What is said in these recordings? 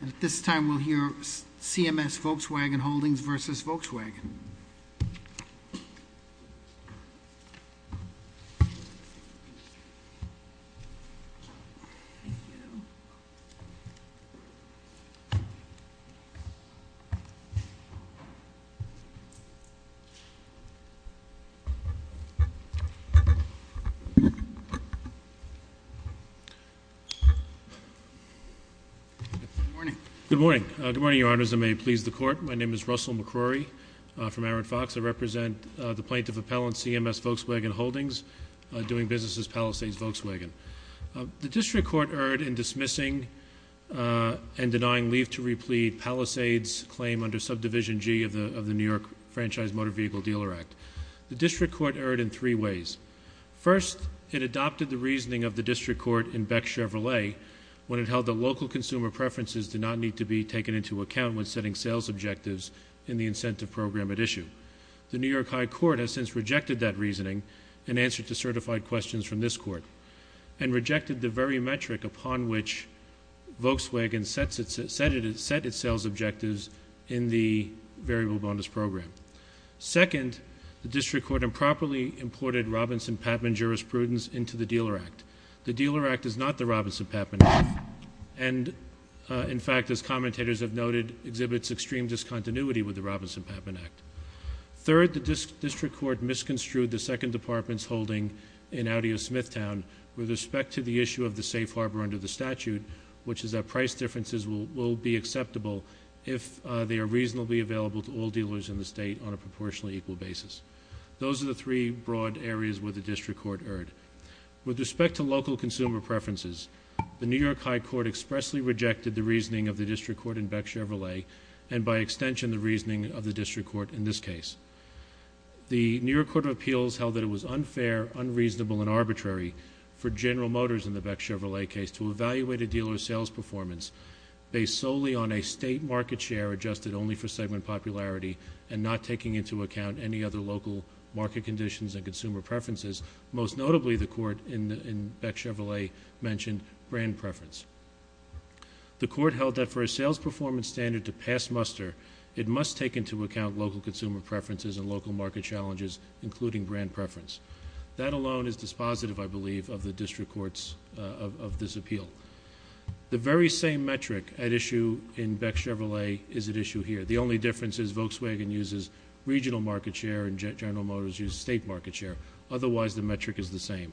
And at this time, we'll hear CMS Volkswagen Holdings versus Volkswagen. Good morning. Good morning. Good morning, your honors, and may it please the court. My name is Russell McCrory from Aaron Fox. I represent the plaintiff appellant, CMS Volkswagen Holdings, doing business as Palisades Volkswagen. The district court erred in dismissing and denying leave to replete Palisades claim under subdivision G of the New York Franchise Motor Vehicle Dealer Act. The district court erred in three ways. First, it adopted the reasoning of the district court in Beck Chevrolet when it held the local consumer preferences did not need to be taken into account when setting sales objectives in the incentive program at issue. The New York High Court has since rejected that reasoning and answered to certified questions from this court. And rejected the very metric upon which Volkswagen set its sales objectives in the variable bonus program. Second, the district court improperly imported Robinson-Patman jurisprudence into the dealer act. The dealer act is not the Robinson-Patman act. And in fact, as commentators have noted, exhibits extreme discontinuity with the Robinson-Patman act. Third, the district court misconstrued the second department's holding in Audio Smithtown with respect to the issue of the safe harbor under the statute. Which is that price differences will be acceptable if they are reasonably available to all dealers in the state on a proportionally equal basis. Those are the three broad areas where the district court erred. With respect to local consumer preferences, the New York High Court expressly rejected the reasoning of the district court in Beck Chevrolet. And by extension, the reasoning of the district court in this case. The New York Court of Appeals held that it was unfair, unreasonable, and arbitrary for General Motors in the Beck Chevrolet case to evaluate a dealer's sales performance based solely on a state market share adjusted only for segment popularity and not taking into account any other local market conditions and consumer preferences. Most notably, the court in Beck Chevrolet mentioned brand preference. The court held that for a sales performance standard to pass muster, it must take into account local consumer preferences and local market challenges, including brand preference. That alone is dispositive, I believe, of the district court's, of this appeal. The very same metric at issue in Beck Chevrolet is at issue here. The only difference is Volkswagen uses regional market share and General Motors uses state market share. Otherwise, the metric is the same.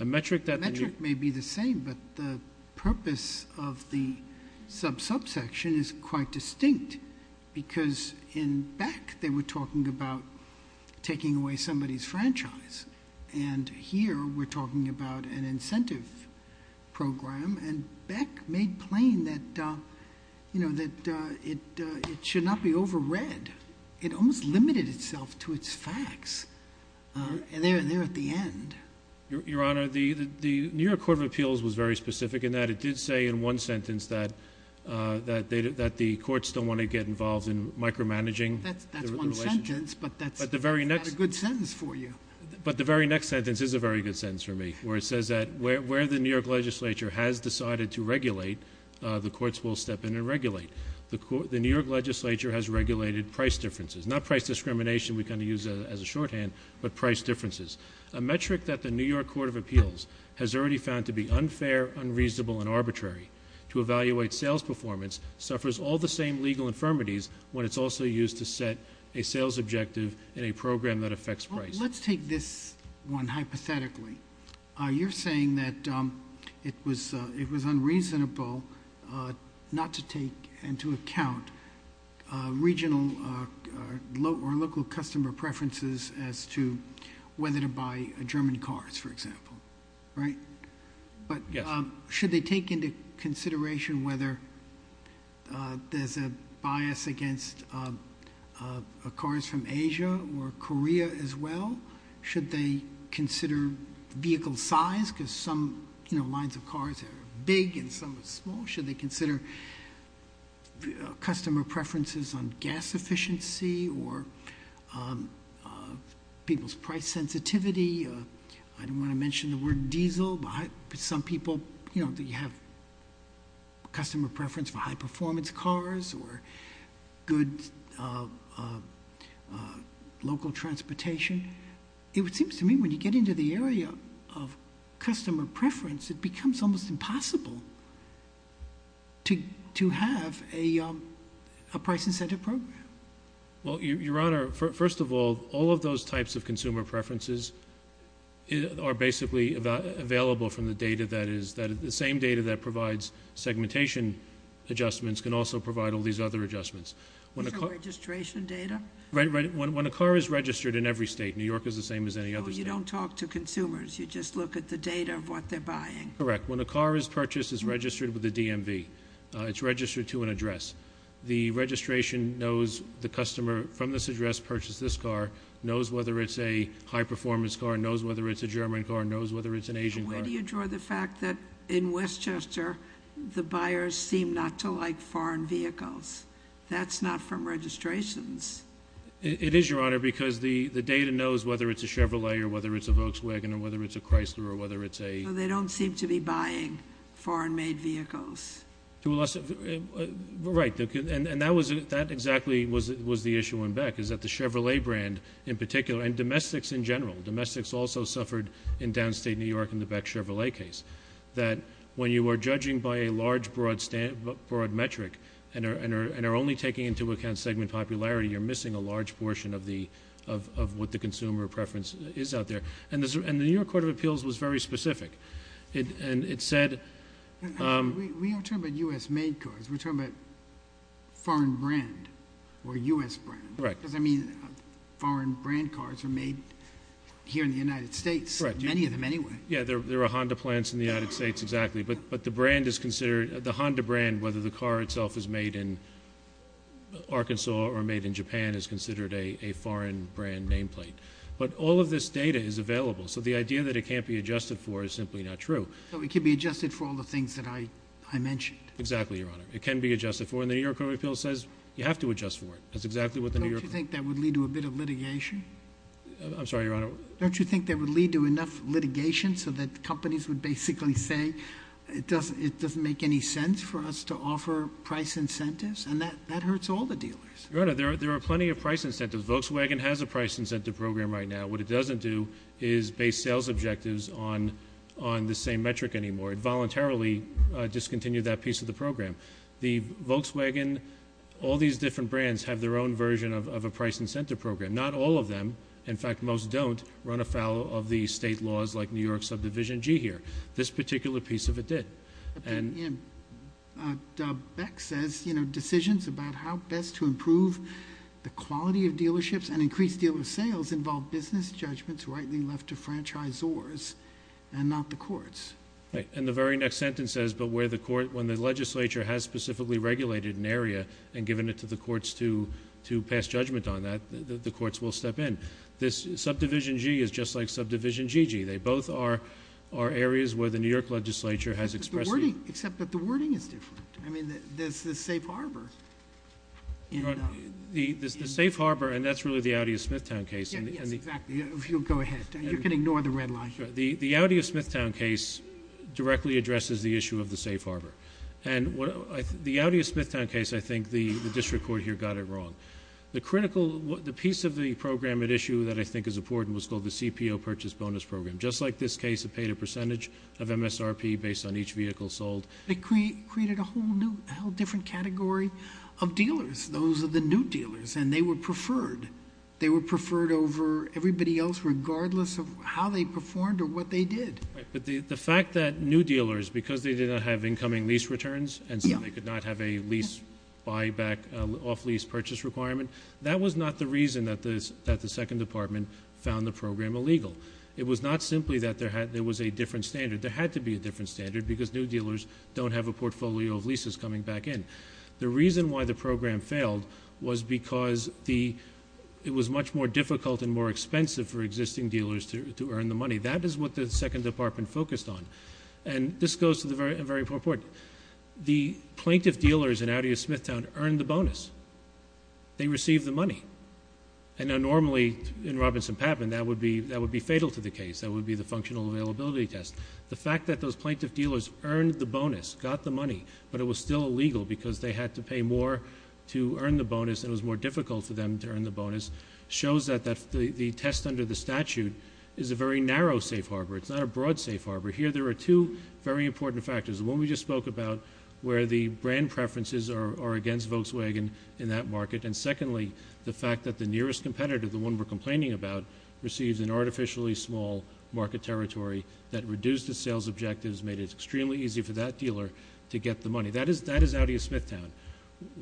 A metric that- The metric may be the same, but the purpose of the sub-subsection is quite distinct. Because in Beck, they were talking about taking away somebody's franchise. And here, we're talking about an incentive program. And Beck made plain that it should not be over read. It almost limited itself to its facts, and they're there at the end. Your Honor, the New York Court of Appeals was very specific in that it did say in one sentence that the courts don't want to get involved in micromanaging. That's one sentence, but that's a good sentence for you. But the very next sentence is a very good sentence for me, where it says that where the New York legislature has decided to regulate, the courts will step in and regulate. The New York legislature has regulated price differences. Not price discrimination we can use as a shorthand, but price differences. A metric that the New York Court of Appeals has already found to be unfair, unreasonable, and arbitrary. To evaluate sales performance suffers all the same legal infirmities when it's also used to set a sales objective in a program that affects price. Let's take this one hypothetically. You're saying that it was unreasonable not to take into account regional or local customer preferences as to whether to buy German cars, for example, right? But should they take into consideration whether there's a bias against cars from Asia or Korea as well? Should they consider vehicle size, because some lines of cars are big and some are small. Should they consider customer preferences on gas efficiency or people's price sensitivity, I don't want to mention the word diesel. Some people, you have customer preference for high performance cars or good local transportation. It would seem to me when you get into the area of customer preference, it becomes almost impossible to have a price incentive program. Well, Your Honor, first of all, all of those types of consumer preferences are basically available from the data that is, that is the same data that provides segmentation adjustments can also provide all these other adjustments. Is it registration data? When a car is registered in every state, New York is the same as any other state. You don't talk to consumers, you just look at the data of what they're buying. Correct. When a car is purchased, it's registered with the DMV. It's registered to an address. The registration knows the customer from this address purchased this car, knows whether it's a high performance car, knows whether it's a German car, knows whether it's an Asian car. Where do you draw the fact that in Westchester, the buyers seem not to like foreign vehicles? That's not from registrations. It is, Your Honor, because the data knows whether it's a Chevrolet, or whether it's a Volkswagen, or whether it's a Chrysler, or whether it's a- So they don't seem to be buying foreign made vehicles. Right, and that exactly was the issue in Beck, is that the Chevrolet brand in particular, and domestics in general. Domestics also suffered in downstate New York in the Beck Chevrolet case. That when you are judging by a large broad metric, and are only taking into account segment popularity, you're missing a large portion of what the consumer preference is out there. And the New York Court of Appeals was very specific, and it said- We aren't talking about US made cars, we're talking about foreign brand, or US brand. Correct. Because, I mean, foreign brand cars are made here in the United States, many of them anyway. Yeah, there are Honda plants in the United States, exactly, but the Honda brand, whether the car itself is made in Arkansas or made in Japan, is considered a foreign brand nameplate. But all of this data is available, so the idea that it can't be adjusted for is simply not true. So it can be adjusted for all the things that I mentioned? Exactly, Your Honor. It can be adjusted for, and the New York Court of Appeals says you have to adjust for it. That's exactly what the New York- Don't you think that would lead to a bit of litigation? I'm sorry, Your Honor. Don't you think that would lead to enough litigation so that companies would basically say, it doesn't make any sense for us to offer price incentives, and that hurts all the dealers? Your Honor, there are plenty of price incentives. Volkswagen has a price incentive program right now. What it doesn't do is base sales objectives on the same metric anymore. It voluntarily discontinued that piece of the program. The Volkswagen, all these different brands have their own version of a price incentive program. Not all of them, in fact most don't, run afoul of the state laws like New York Subdivision G here. This particular piece of it did. Beck says, decisions about how best to improve the quality of dealerships and increased dealer sales involve business judgments rightly left to franchisors and not the courts. Right, and the very next sentence says, but where the court, when the legislature has specifically regulated an area and given it to the courts to pass judgment on that, the courts will step in. This subdivision G is just like subdivision GG. They both are areas where the New York legislature has expressed- Except that the wording is different. I mean, there's the safe harbor. The safe harbor, and that's really the Audi of Smithtown case. Yes, exactly. If you'll go ahead. You can ignore the red line. The Audi of Smithtown case directly addresses the issue of the safe harbor. And the Audi of Smithtown case, I think the district court here got it wrong. The critical, the piece of the program at issue that I think is important was called the CPO Purchase Bonus Program. Just like this case, it paid a percentage of MSRP based on each vehicle sold. It created a whole new, a whole different category of dealers. Those are the new dealers, and they were preferred. They were preferred over everybody else regardless of how they performed or what they did. But the fact that new dealers, because they did not have incoming lease returns and so they could not have a lease buyback off lease purchase requirement. That was not the reason that the second department found the program illegal. It was not simply that there was a different standard. There had to be a different standard because new dealers don't have a portfolio of leases coming back in. The reason why the program failed was because it was much more difficult and more expensive for existing dealers to earn the money. That is what the second department focused on. And this goes to the very important point. The plaintiff dealers in Audi of Smithtown earned the bonus. They received the money. And normally in Robinson Pappin, that would be fatal to the case. That would be the functional availability test. The fact that those plaintiff dealers earned the bonus, got the money, but it was still illegal because they had to pay more to earn the bonus and it was more difficult for them to earn the bonus. Shows that the test under the statute is a very narrow safe harbor. It's not a broad safe harbor. Here there are two very important factors. The one we just spoke about, where the brand preferences are against Volkswagen in that market. And secondly, the fact that the nearest competitor, the one we're complaining about, receives an artificially small market territory that reduced the sales objectives, made it extremely easy for that dealer to get the money. That is Audi of Smithtown.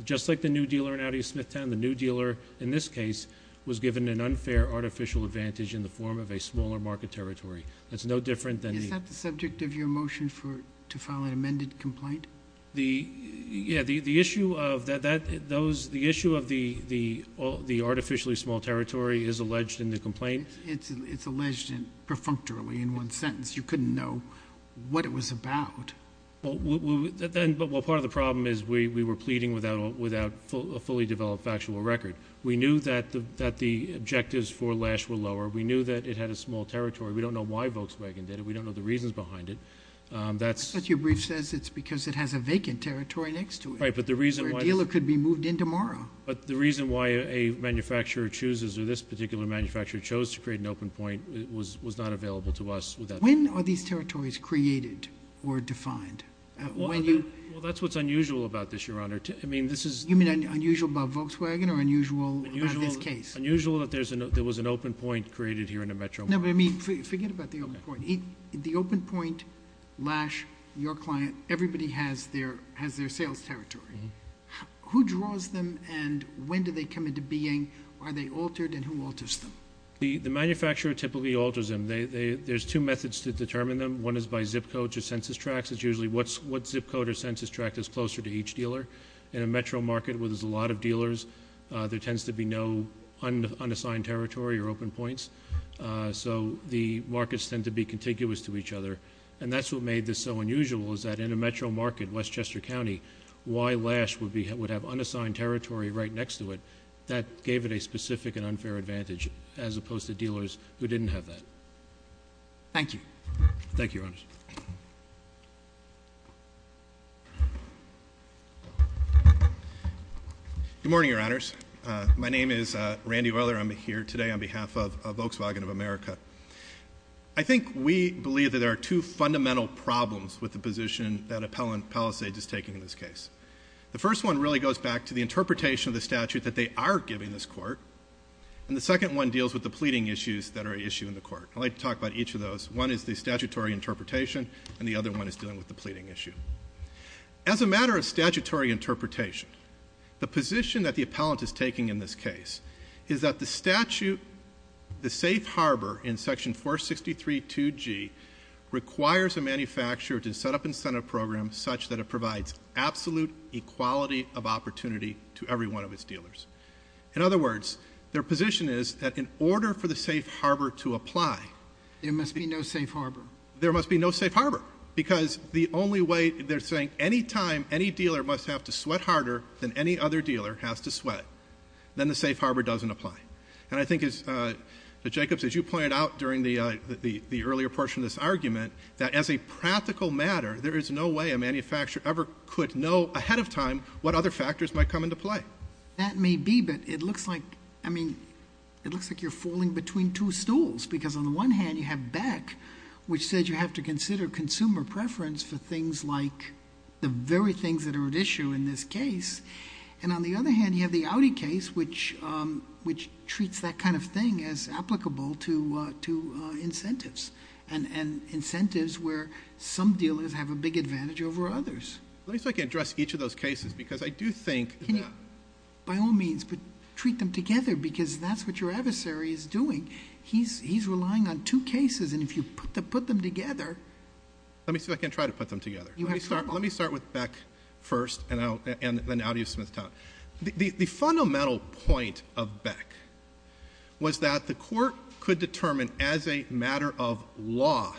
Just like the new dealer in Audi of Smithtown, the new dealer in this case was given an unfair artificial advantage in the form of a smaller market territory. That's no different than the- Is that the subject of your motion to file an amended complaint? Yeah, the issue of the artificially small territory is alleged in the complaint. It's alleged perfunctorily in one sentence. You couldn't know what it was about. Well, part of the problem is we were pleading without a fully developed factual record. We knew that the objectives for Lash were lower. We knew that it had a small territory. We don't know why Volkswagen did it. We don't know the reasons behind it. That's- But your brief says it's because it has a vacant territory next to it. Right, but the reason why- Where a dealer could be moved in tomorrow. But the reason why a manufacturer chooses, or this particular manufacturer chose to create an open point, was not available to us without- When are these territories created or defined? When you- Well, that's what's unusual about this, Your Honor. I mean, this is- You mean unusual about Volkswagen, or unusual about this case? Unusual that there was an open point created here in a metro market. No, but I mean, forget about the open point. The open point, Lash, your client, everybody has their sales territory. Who draws them, and when do they come into being? Are they altered, and who alters them? The manufacturer typically alters them. There's two methods to determine them. One is by zip code to census tracts. It's usually what zip code or census tract is closer to each dealer. In a metro market where there's a lot of dealers, there tends to be no unassigned territory or open points. So the markets tend to be contiguous to each other. And that's what made this so unusual, is that in a metro market, Westchester County, why Lash would have unassigned territory right next to it? That gave it a specific and unfair advantage, as opposed to dealers who didn't have that. Thank you. Thank you, Your Honors. Good morning, Your Honors. My name is Randy Weller. I'm here today on behalf of Volkswagen of America. I think we believe that there are two fundamental problems with the position that Appellant Palisades is taking in this case. The first one really goes back to the interpretation of the statute that they are giving this court. And the second one deals with the pleading issues that are issued in the court. I'd like to talk about each of those. One is the statutory interpretation, and the other one is dealing with the pleading issue. As a matter of statutory interpretation, the position that the appellant is taking in this case is that the statute, the safe harbor in section 463.2g, requires a manufacturer to set up incentive programs such that it provides absolute equality of opportunity to every one of its dealers. In other words, their position is that in order for the safe harbor to apply. There must be no safe harbor. There must be no safe harbor. Because the only way, they're saying any time any dealer must have to sweat harder than any other dealer has to sweat. Then the safe harbor doesn't apply. And I think as, that Jacob, as you pointed out during the earlier portion of this argument, that as a practical matter, there is no way a manufacturer ever could know ahead of time what other factors might come into play. That may be, but it looks like, I mean, it looks like you're falling between two stools. Because on the one hand, you have Beck, which said you have to consider consumer preference for things like the very things that are at issue in this case. And on the other hand, you have the Audi case, which treats that kind of thing as applicable to incentives. And incentives where some dealers have a big advantage over others. Let me see if I can address each of those cases, because I do think that- By all means, but treat them together, because that's what your adversary is doing. He's relying on two cases, and if you put them together. Let me see if I can try to put them together. You have trouble. Let me start with Beck first, and then Audi of Smithtown. The fundamental point of Beck was that the court could determine, as a matter of law,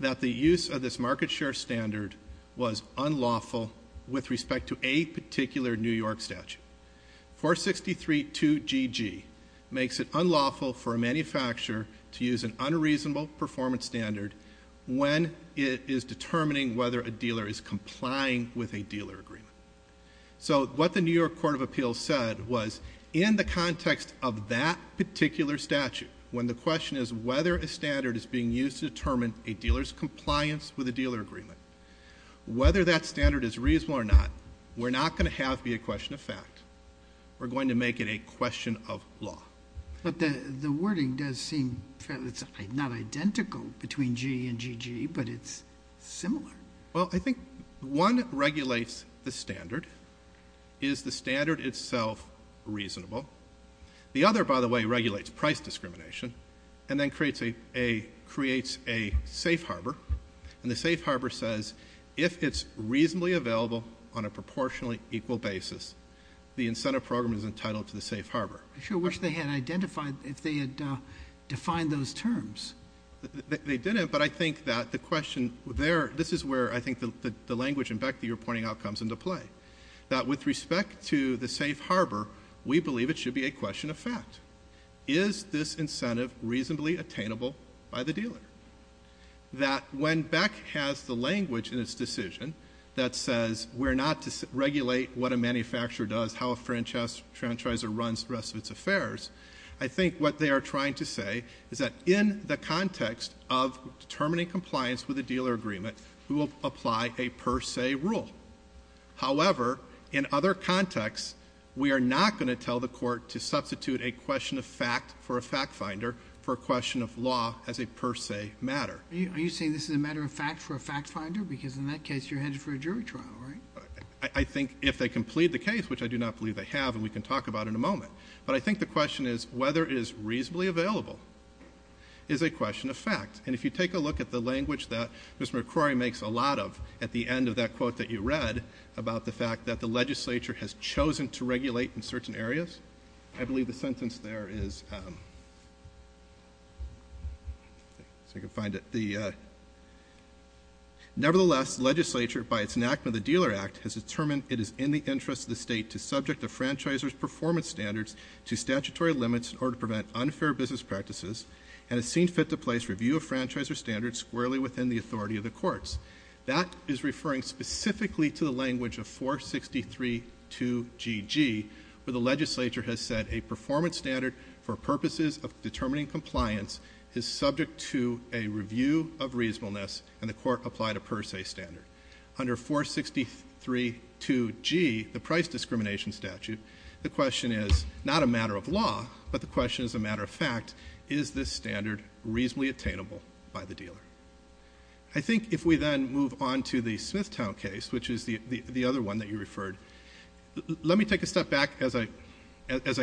that the use of this market share standard was unlawful with respect to a particular New York statute. 4632GG makes it unlawful for a manufacturer to use an unreasonable performance standard when it is determining whether a dealer is complying with a dealer agreement. So what the New York Court of Appeals said was, in the context of that particular statute, when the question is whether a standard is being used to determine a dealer's compliance with a dealer agreement. Whether that standard is reasonable or not, we're not going to have it be a question of fact. We're going to make it a question of law. But the wording does seem, it's not identical between G and GG, but it's similar. Well, I think one regulates the standard. Is the standard itself reasonable? The other, by the way, regulates price discrimination, and then creates a safe harbor. And the safe harbor says, if it's reasonably available on a proportionally equal basis, the incentive program is entitled to the safe harbor. I sure wish they had identified, if they had defined those terms. They didn't, but I think that the question there, this is where I think the language in Beck that you're pointing out comes into play. That with respect to the safe harbor, we believe it should be a question of fact. Is this incentive reasonably attainable by the dealer? That when Beck has the language in its decision that says, we're not to regulate what a manufacturer does, how a franchisor runs the rest of its affairs. I think what they are trying to say is that in the context of determining compliance with a dealer agreement, we will apply a per se rule. However, in other contexts, we are not going to tell the court to substitute a question of fact for a fact finder for a question of law as a per se matter. Are you saying this is a matter of fact for a fact finder? Because in that case, you're headed for a jury trial, right? I think if they can plead the case, which I do not believe they have, and we can talk about it in a moment. But I think the question is, whether it is reasonably available is a question of fact. And if you take a look at the language that Ms. McCrory makes a lot of at the end of that quote that you read about the fact that the legislature has chosen to regulate in certain areas, I believe the sentence there is, let me see if I can find it, nevertheless, legislature by its enactment of the Dealer Act has determined it is in the interest of the state to subject the franchisor's performance standards to statutory limits in order to prevent unfair business practices, and has seen fit to place review of franchisor standards squarely within the authority of the courts. That is referring specifically to the language of 463-2GG where the legislature has set a performance standard for purposes of determining compliance is subject to a review of reasonableness, and the court applied a per se standard. Under 463-2G, the price discrimination statute, the question is not a matter of law, but the question is a matter of fact, is this standard reasonably attainable by the dealer? I think if we then move on to the Smithtown case, which is the other one that you referred. Let me take a step back as I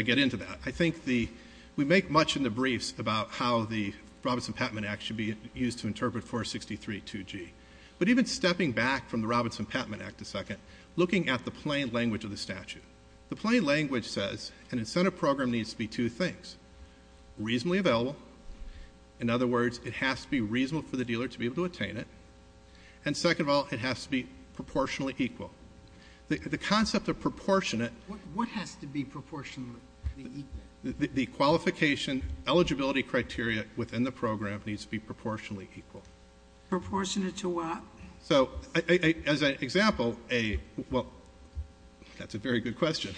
get into that. I think we make much in the briefs about how the Robinson-Pattman Act should be used to interpret 463-2G. But even stepping back from the Robinson-Pattman Act a second, looking at the plain language of the statute. The plain language says an incentive program needs to be two things. Reasonably available, in other words, it has to be reasonable for the dealer to be able to attain it, and second of all, it has to be proportionally equal. The concept of proportionate- What has to be proportionally equal? The qualification eligibility criteria within the program needs to be proportionally equal. Proportionate to what? So as an example, well, that's a very good question.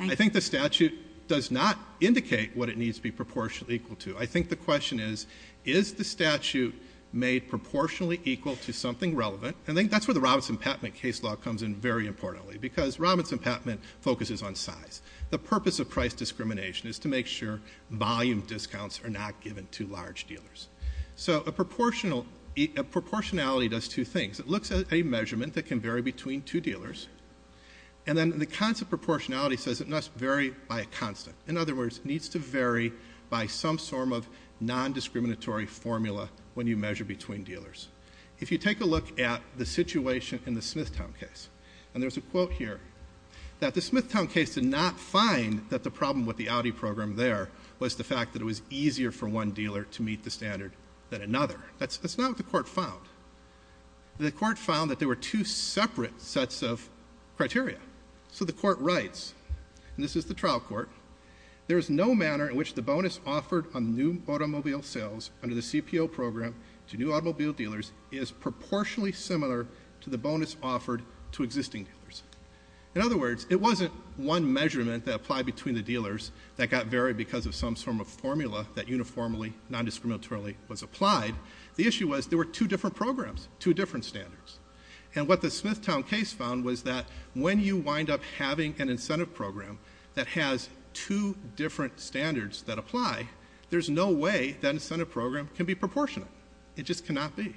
I think the statute does not indicate what it needs to be proportionally equal to. I think the question is, is the statute made proportionally equal to something relevant? I think that's where the Robinson-Pattman case law comes in very importantly, because Robinson-Pattman focuses on size. The purpose of price discrimination is to make sure volume discounts are not given to large dealers. So a proportionality does two things. It looks at a measurement that can vary between two dealers, and then the concept of proportionality says it must vary by a constant. In other words, it needs to vary by some sort of non-discriminatory formula when you measure between dealers. If you take a look at the situation in the Smithtown case, and there's a quote here, that the Smithtown case did not find that the problem with the Audi program there was the fact that it was easier for one dealer to meet the standard than another. That's not what the court found. The court found that there were two separate sets of criteria. So the court writes, and this is the trial court. There is no manner in which the bonus offered on new automobile sales under the CPO program to new automobile dealers is proportionally similar to the bonus offered to existing dealers. In other words, it wasn't one measurement that applied between the dealers that got varied because of some sort of formula that uniformly, non-discriminatorily was applied. The issue was there were two different programs, two different standards. And what the Smithtown case found was that when you wind up having an incentive program that has two different standards that apply, there's no way that incentive program can be proportionate, it just cannot be.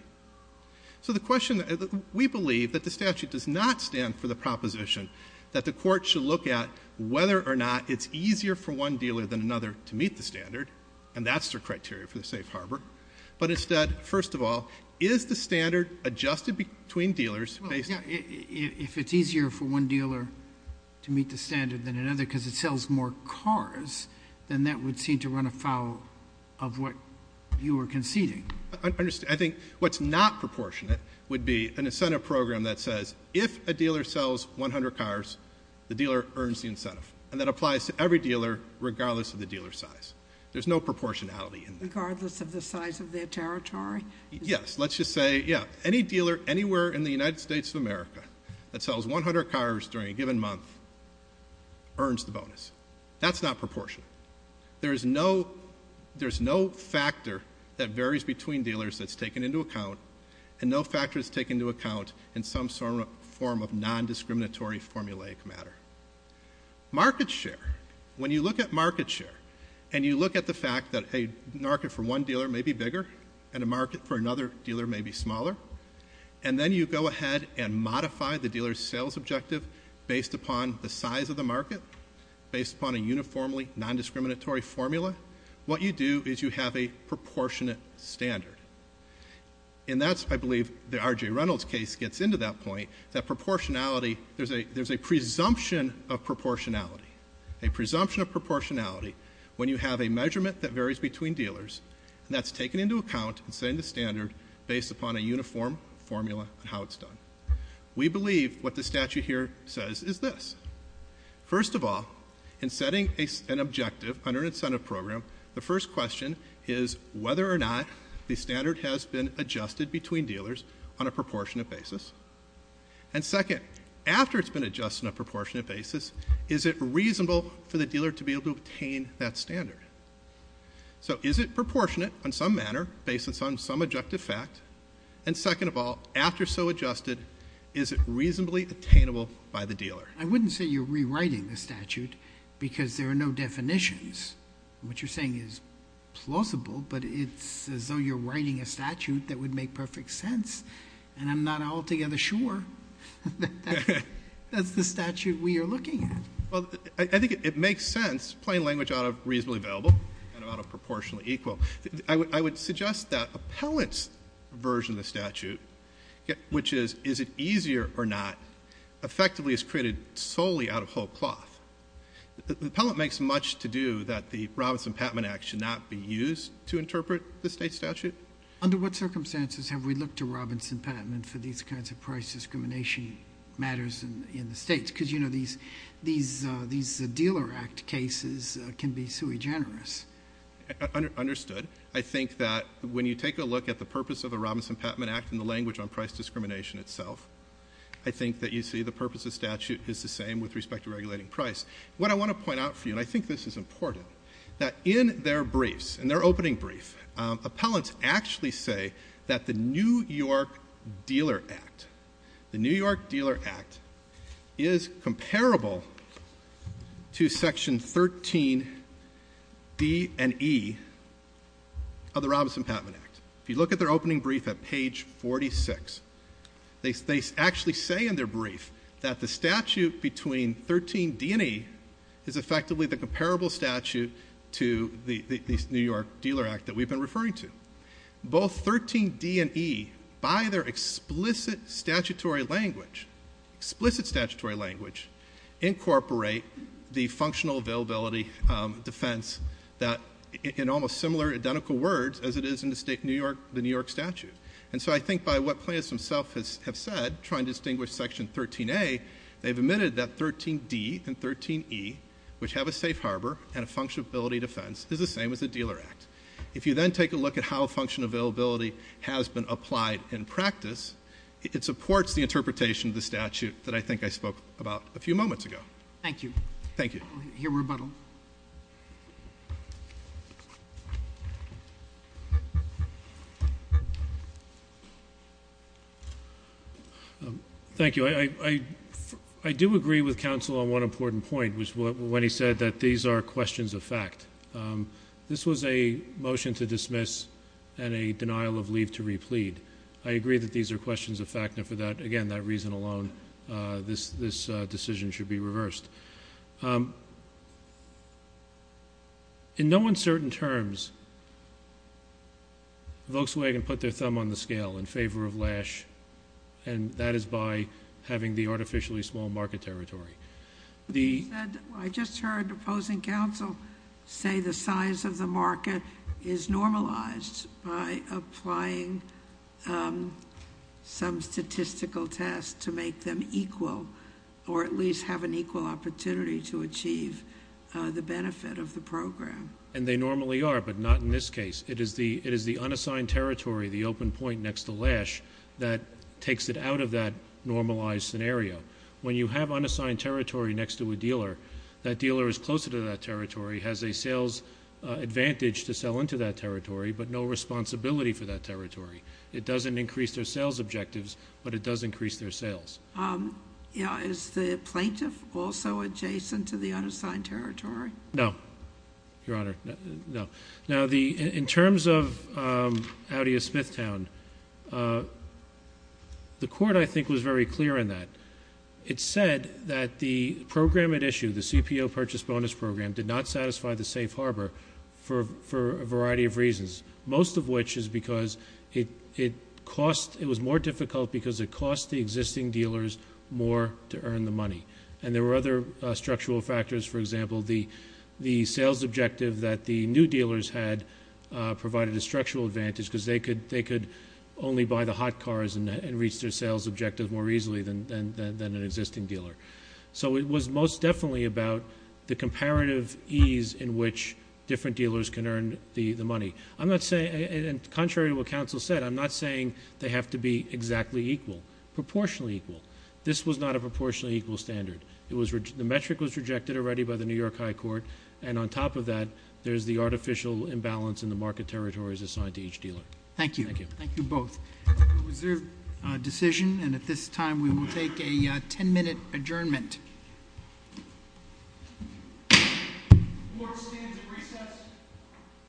So the question, we believe that the statute does not stand for the proposition that the court should look at whether or not it's easier for one dealer than another to meet the standard, and that's the criteria for the safe harbor. But instead, first of all, is the standard adjusted between dealers based- Yeah, if it's easier for one dealer to meet the standard than another, because it sells more cars, then that would seem to run afoul of what you were conceding. I think what's not proportionate would be an incentive program that says, if a dealer sells 100 cars, the dealer earns the incentive. And that applies to every dealer, regardless of the dealer's size. There's no proportionality in that. Regardless of the size of their territory? Yes, let's just say, yeah, any dealer anywhere in the United States of America that sells 100 cars during a given month earns the bonus. That's not proportion. There's no factor that varies between dealers that's taken into account, and no factor that's taken into account in some form of non-discriminatory formulaic matter. Market share. When you look at market share, and you look at the fact that a market for one dealer may be bigger, and a market for another dealer may be smaller, and then you go ahead and modify the dealer's sales objective based upon the size of the market, based upon a uniformly non-discriminatory formula, what you do is you have a proportionate standard. And that's, I believe, the R.J. Reynolds case gets into that point, that proportionality, there's a presumption of proportionality, a presumption of proportionality, when you have a measurement that varies between dealers, and that's taken into account and setting the standard based upon a uniform formula on how it's done. We believe what the statute here says is this. First of all, in setting an objective under an incentive program, the first question is whether or not the standard has been adjusted between dealers on a proportionate basis. And second, after it's been adjusted on a proportionate basis, is it reasonable for the dealer to be able to obtain that standard? So is it proportionate in some manner, based on some objective fact? And second of all, after so adjusted, is it reasonably attainable by the dealer? I wouldn't say you're rewriting the statute, because there are no definitions. What you're saying is plausible, but it's as though you're writing a statute that would make perfect sense. And I'm not altogether sure that's the statute we are looking at. Well, I think it makes sense, plain language out of reasonably available, and out of proportionally equal. I would suggest that appellant's version of the statute, which is, is it easier or not, effectively is created solely out of whole cloth. The appellant makes much to do that the Robinson-Patman Act should not be used to interpret the state statute. Under what circumstances have we looked to Robinson-Patman for these kinds of price discrimination matters in the states? because you know these dealer act cases can be sui generis. Understood. I think that when you take a look at the purpose of the Robinson-Patman Act and the language on price discrimination itself, I think that you see the purpose of statute is the same with respect to regulating price. What I want to point out for you, and I think this is important, that in their briefs, in their opening brief, appellants actually say that the New York Dealer Act, the New York Dealer Act is comparable to section 13D and E of the Robinson-Patman Act. If you look at their opening brief at page 46, they actually say in their brief that the statute between 13D and E is effectively the comparable statute to the New York Dealer Act that we've been referring to. Both 13D and E, by their explicit statutory language, explicit statutory language, incorporate the functional availability defense that in almost similar identical words as it is in the New York statute. And so I think by what plaintiffs themselves have said, trying to distinguish section 13A, they've admitted that 13D and 13E, which have a safe harbor and a function ability defense, is the same as the Dealer Act. If you then take a look at how function availability has been applied in practice, it supports the interpretation of the statute that I think I spoke about a few moments ago. Thank you. Thank you. Your rebuttal. Thank you. I do agree with counsel on one important point, which was when he said that these are questions of fact. This was a motion to dismiss and a denial of leave to replete. I agree that these are questions of fact, and for that, again, that reason alone, this decision should be reversed. In no uncertain terms, Volkswagen put their thumb on the scale in favor of Lash. And that is by having the artificially small market territory. The- I just heard opposing counsel say the size of the market is normalized by applying some statistical test to make them equal, or at least have an equal opportunity to achieve the benefit of the program. And they normally are, but not in this case. It is the unassigned territory, the open point next to Lash, that takes it out of that normalized scenario. When you have unassigned territory next to a dealer, that dealer is closer to that territory, has a sales advantage to sell into that territory, but no responsibility for that territory. It doesn't increase their sales objectives, but it does increase their sales. Yeah, is the plaintiff also adjacent to the unassigned territory? No, Your Honor, no. Now, in terms of Audi of Smithtown, the court, I think, was very clear in that. It said that the program at issue, the CPO Purchase Bonus Program, did not satisfy the safe harbor for a variety of reasons, most of which is because it was more difficult because it cost the existing dealers more to earn the money. And there were other structural factors. For example, the sales objective that the new dealers had provided a structural advantage, because they could only buy the hot cars and reach their sales objectives more easily than an existing dealer. So it was most definitely about the comparative ease in which different dealers can earn the money. And contrary to what counsel said, I'm not saying they have to be exactly equal, proportionally equal. This was not a proportionally equal standard. The metric was rejected already by the New York High Court. And on top of that, there's the artificial imbalance in the market territories assigned to each dealer. Thank you. Thank you both. Reserve decision, and at this time we will take a ten minute adjournment. Court stands at recess.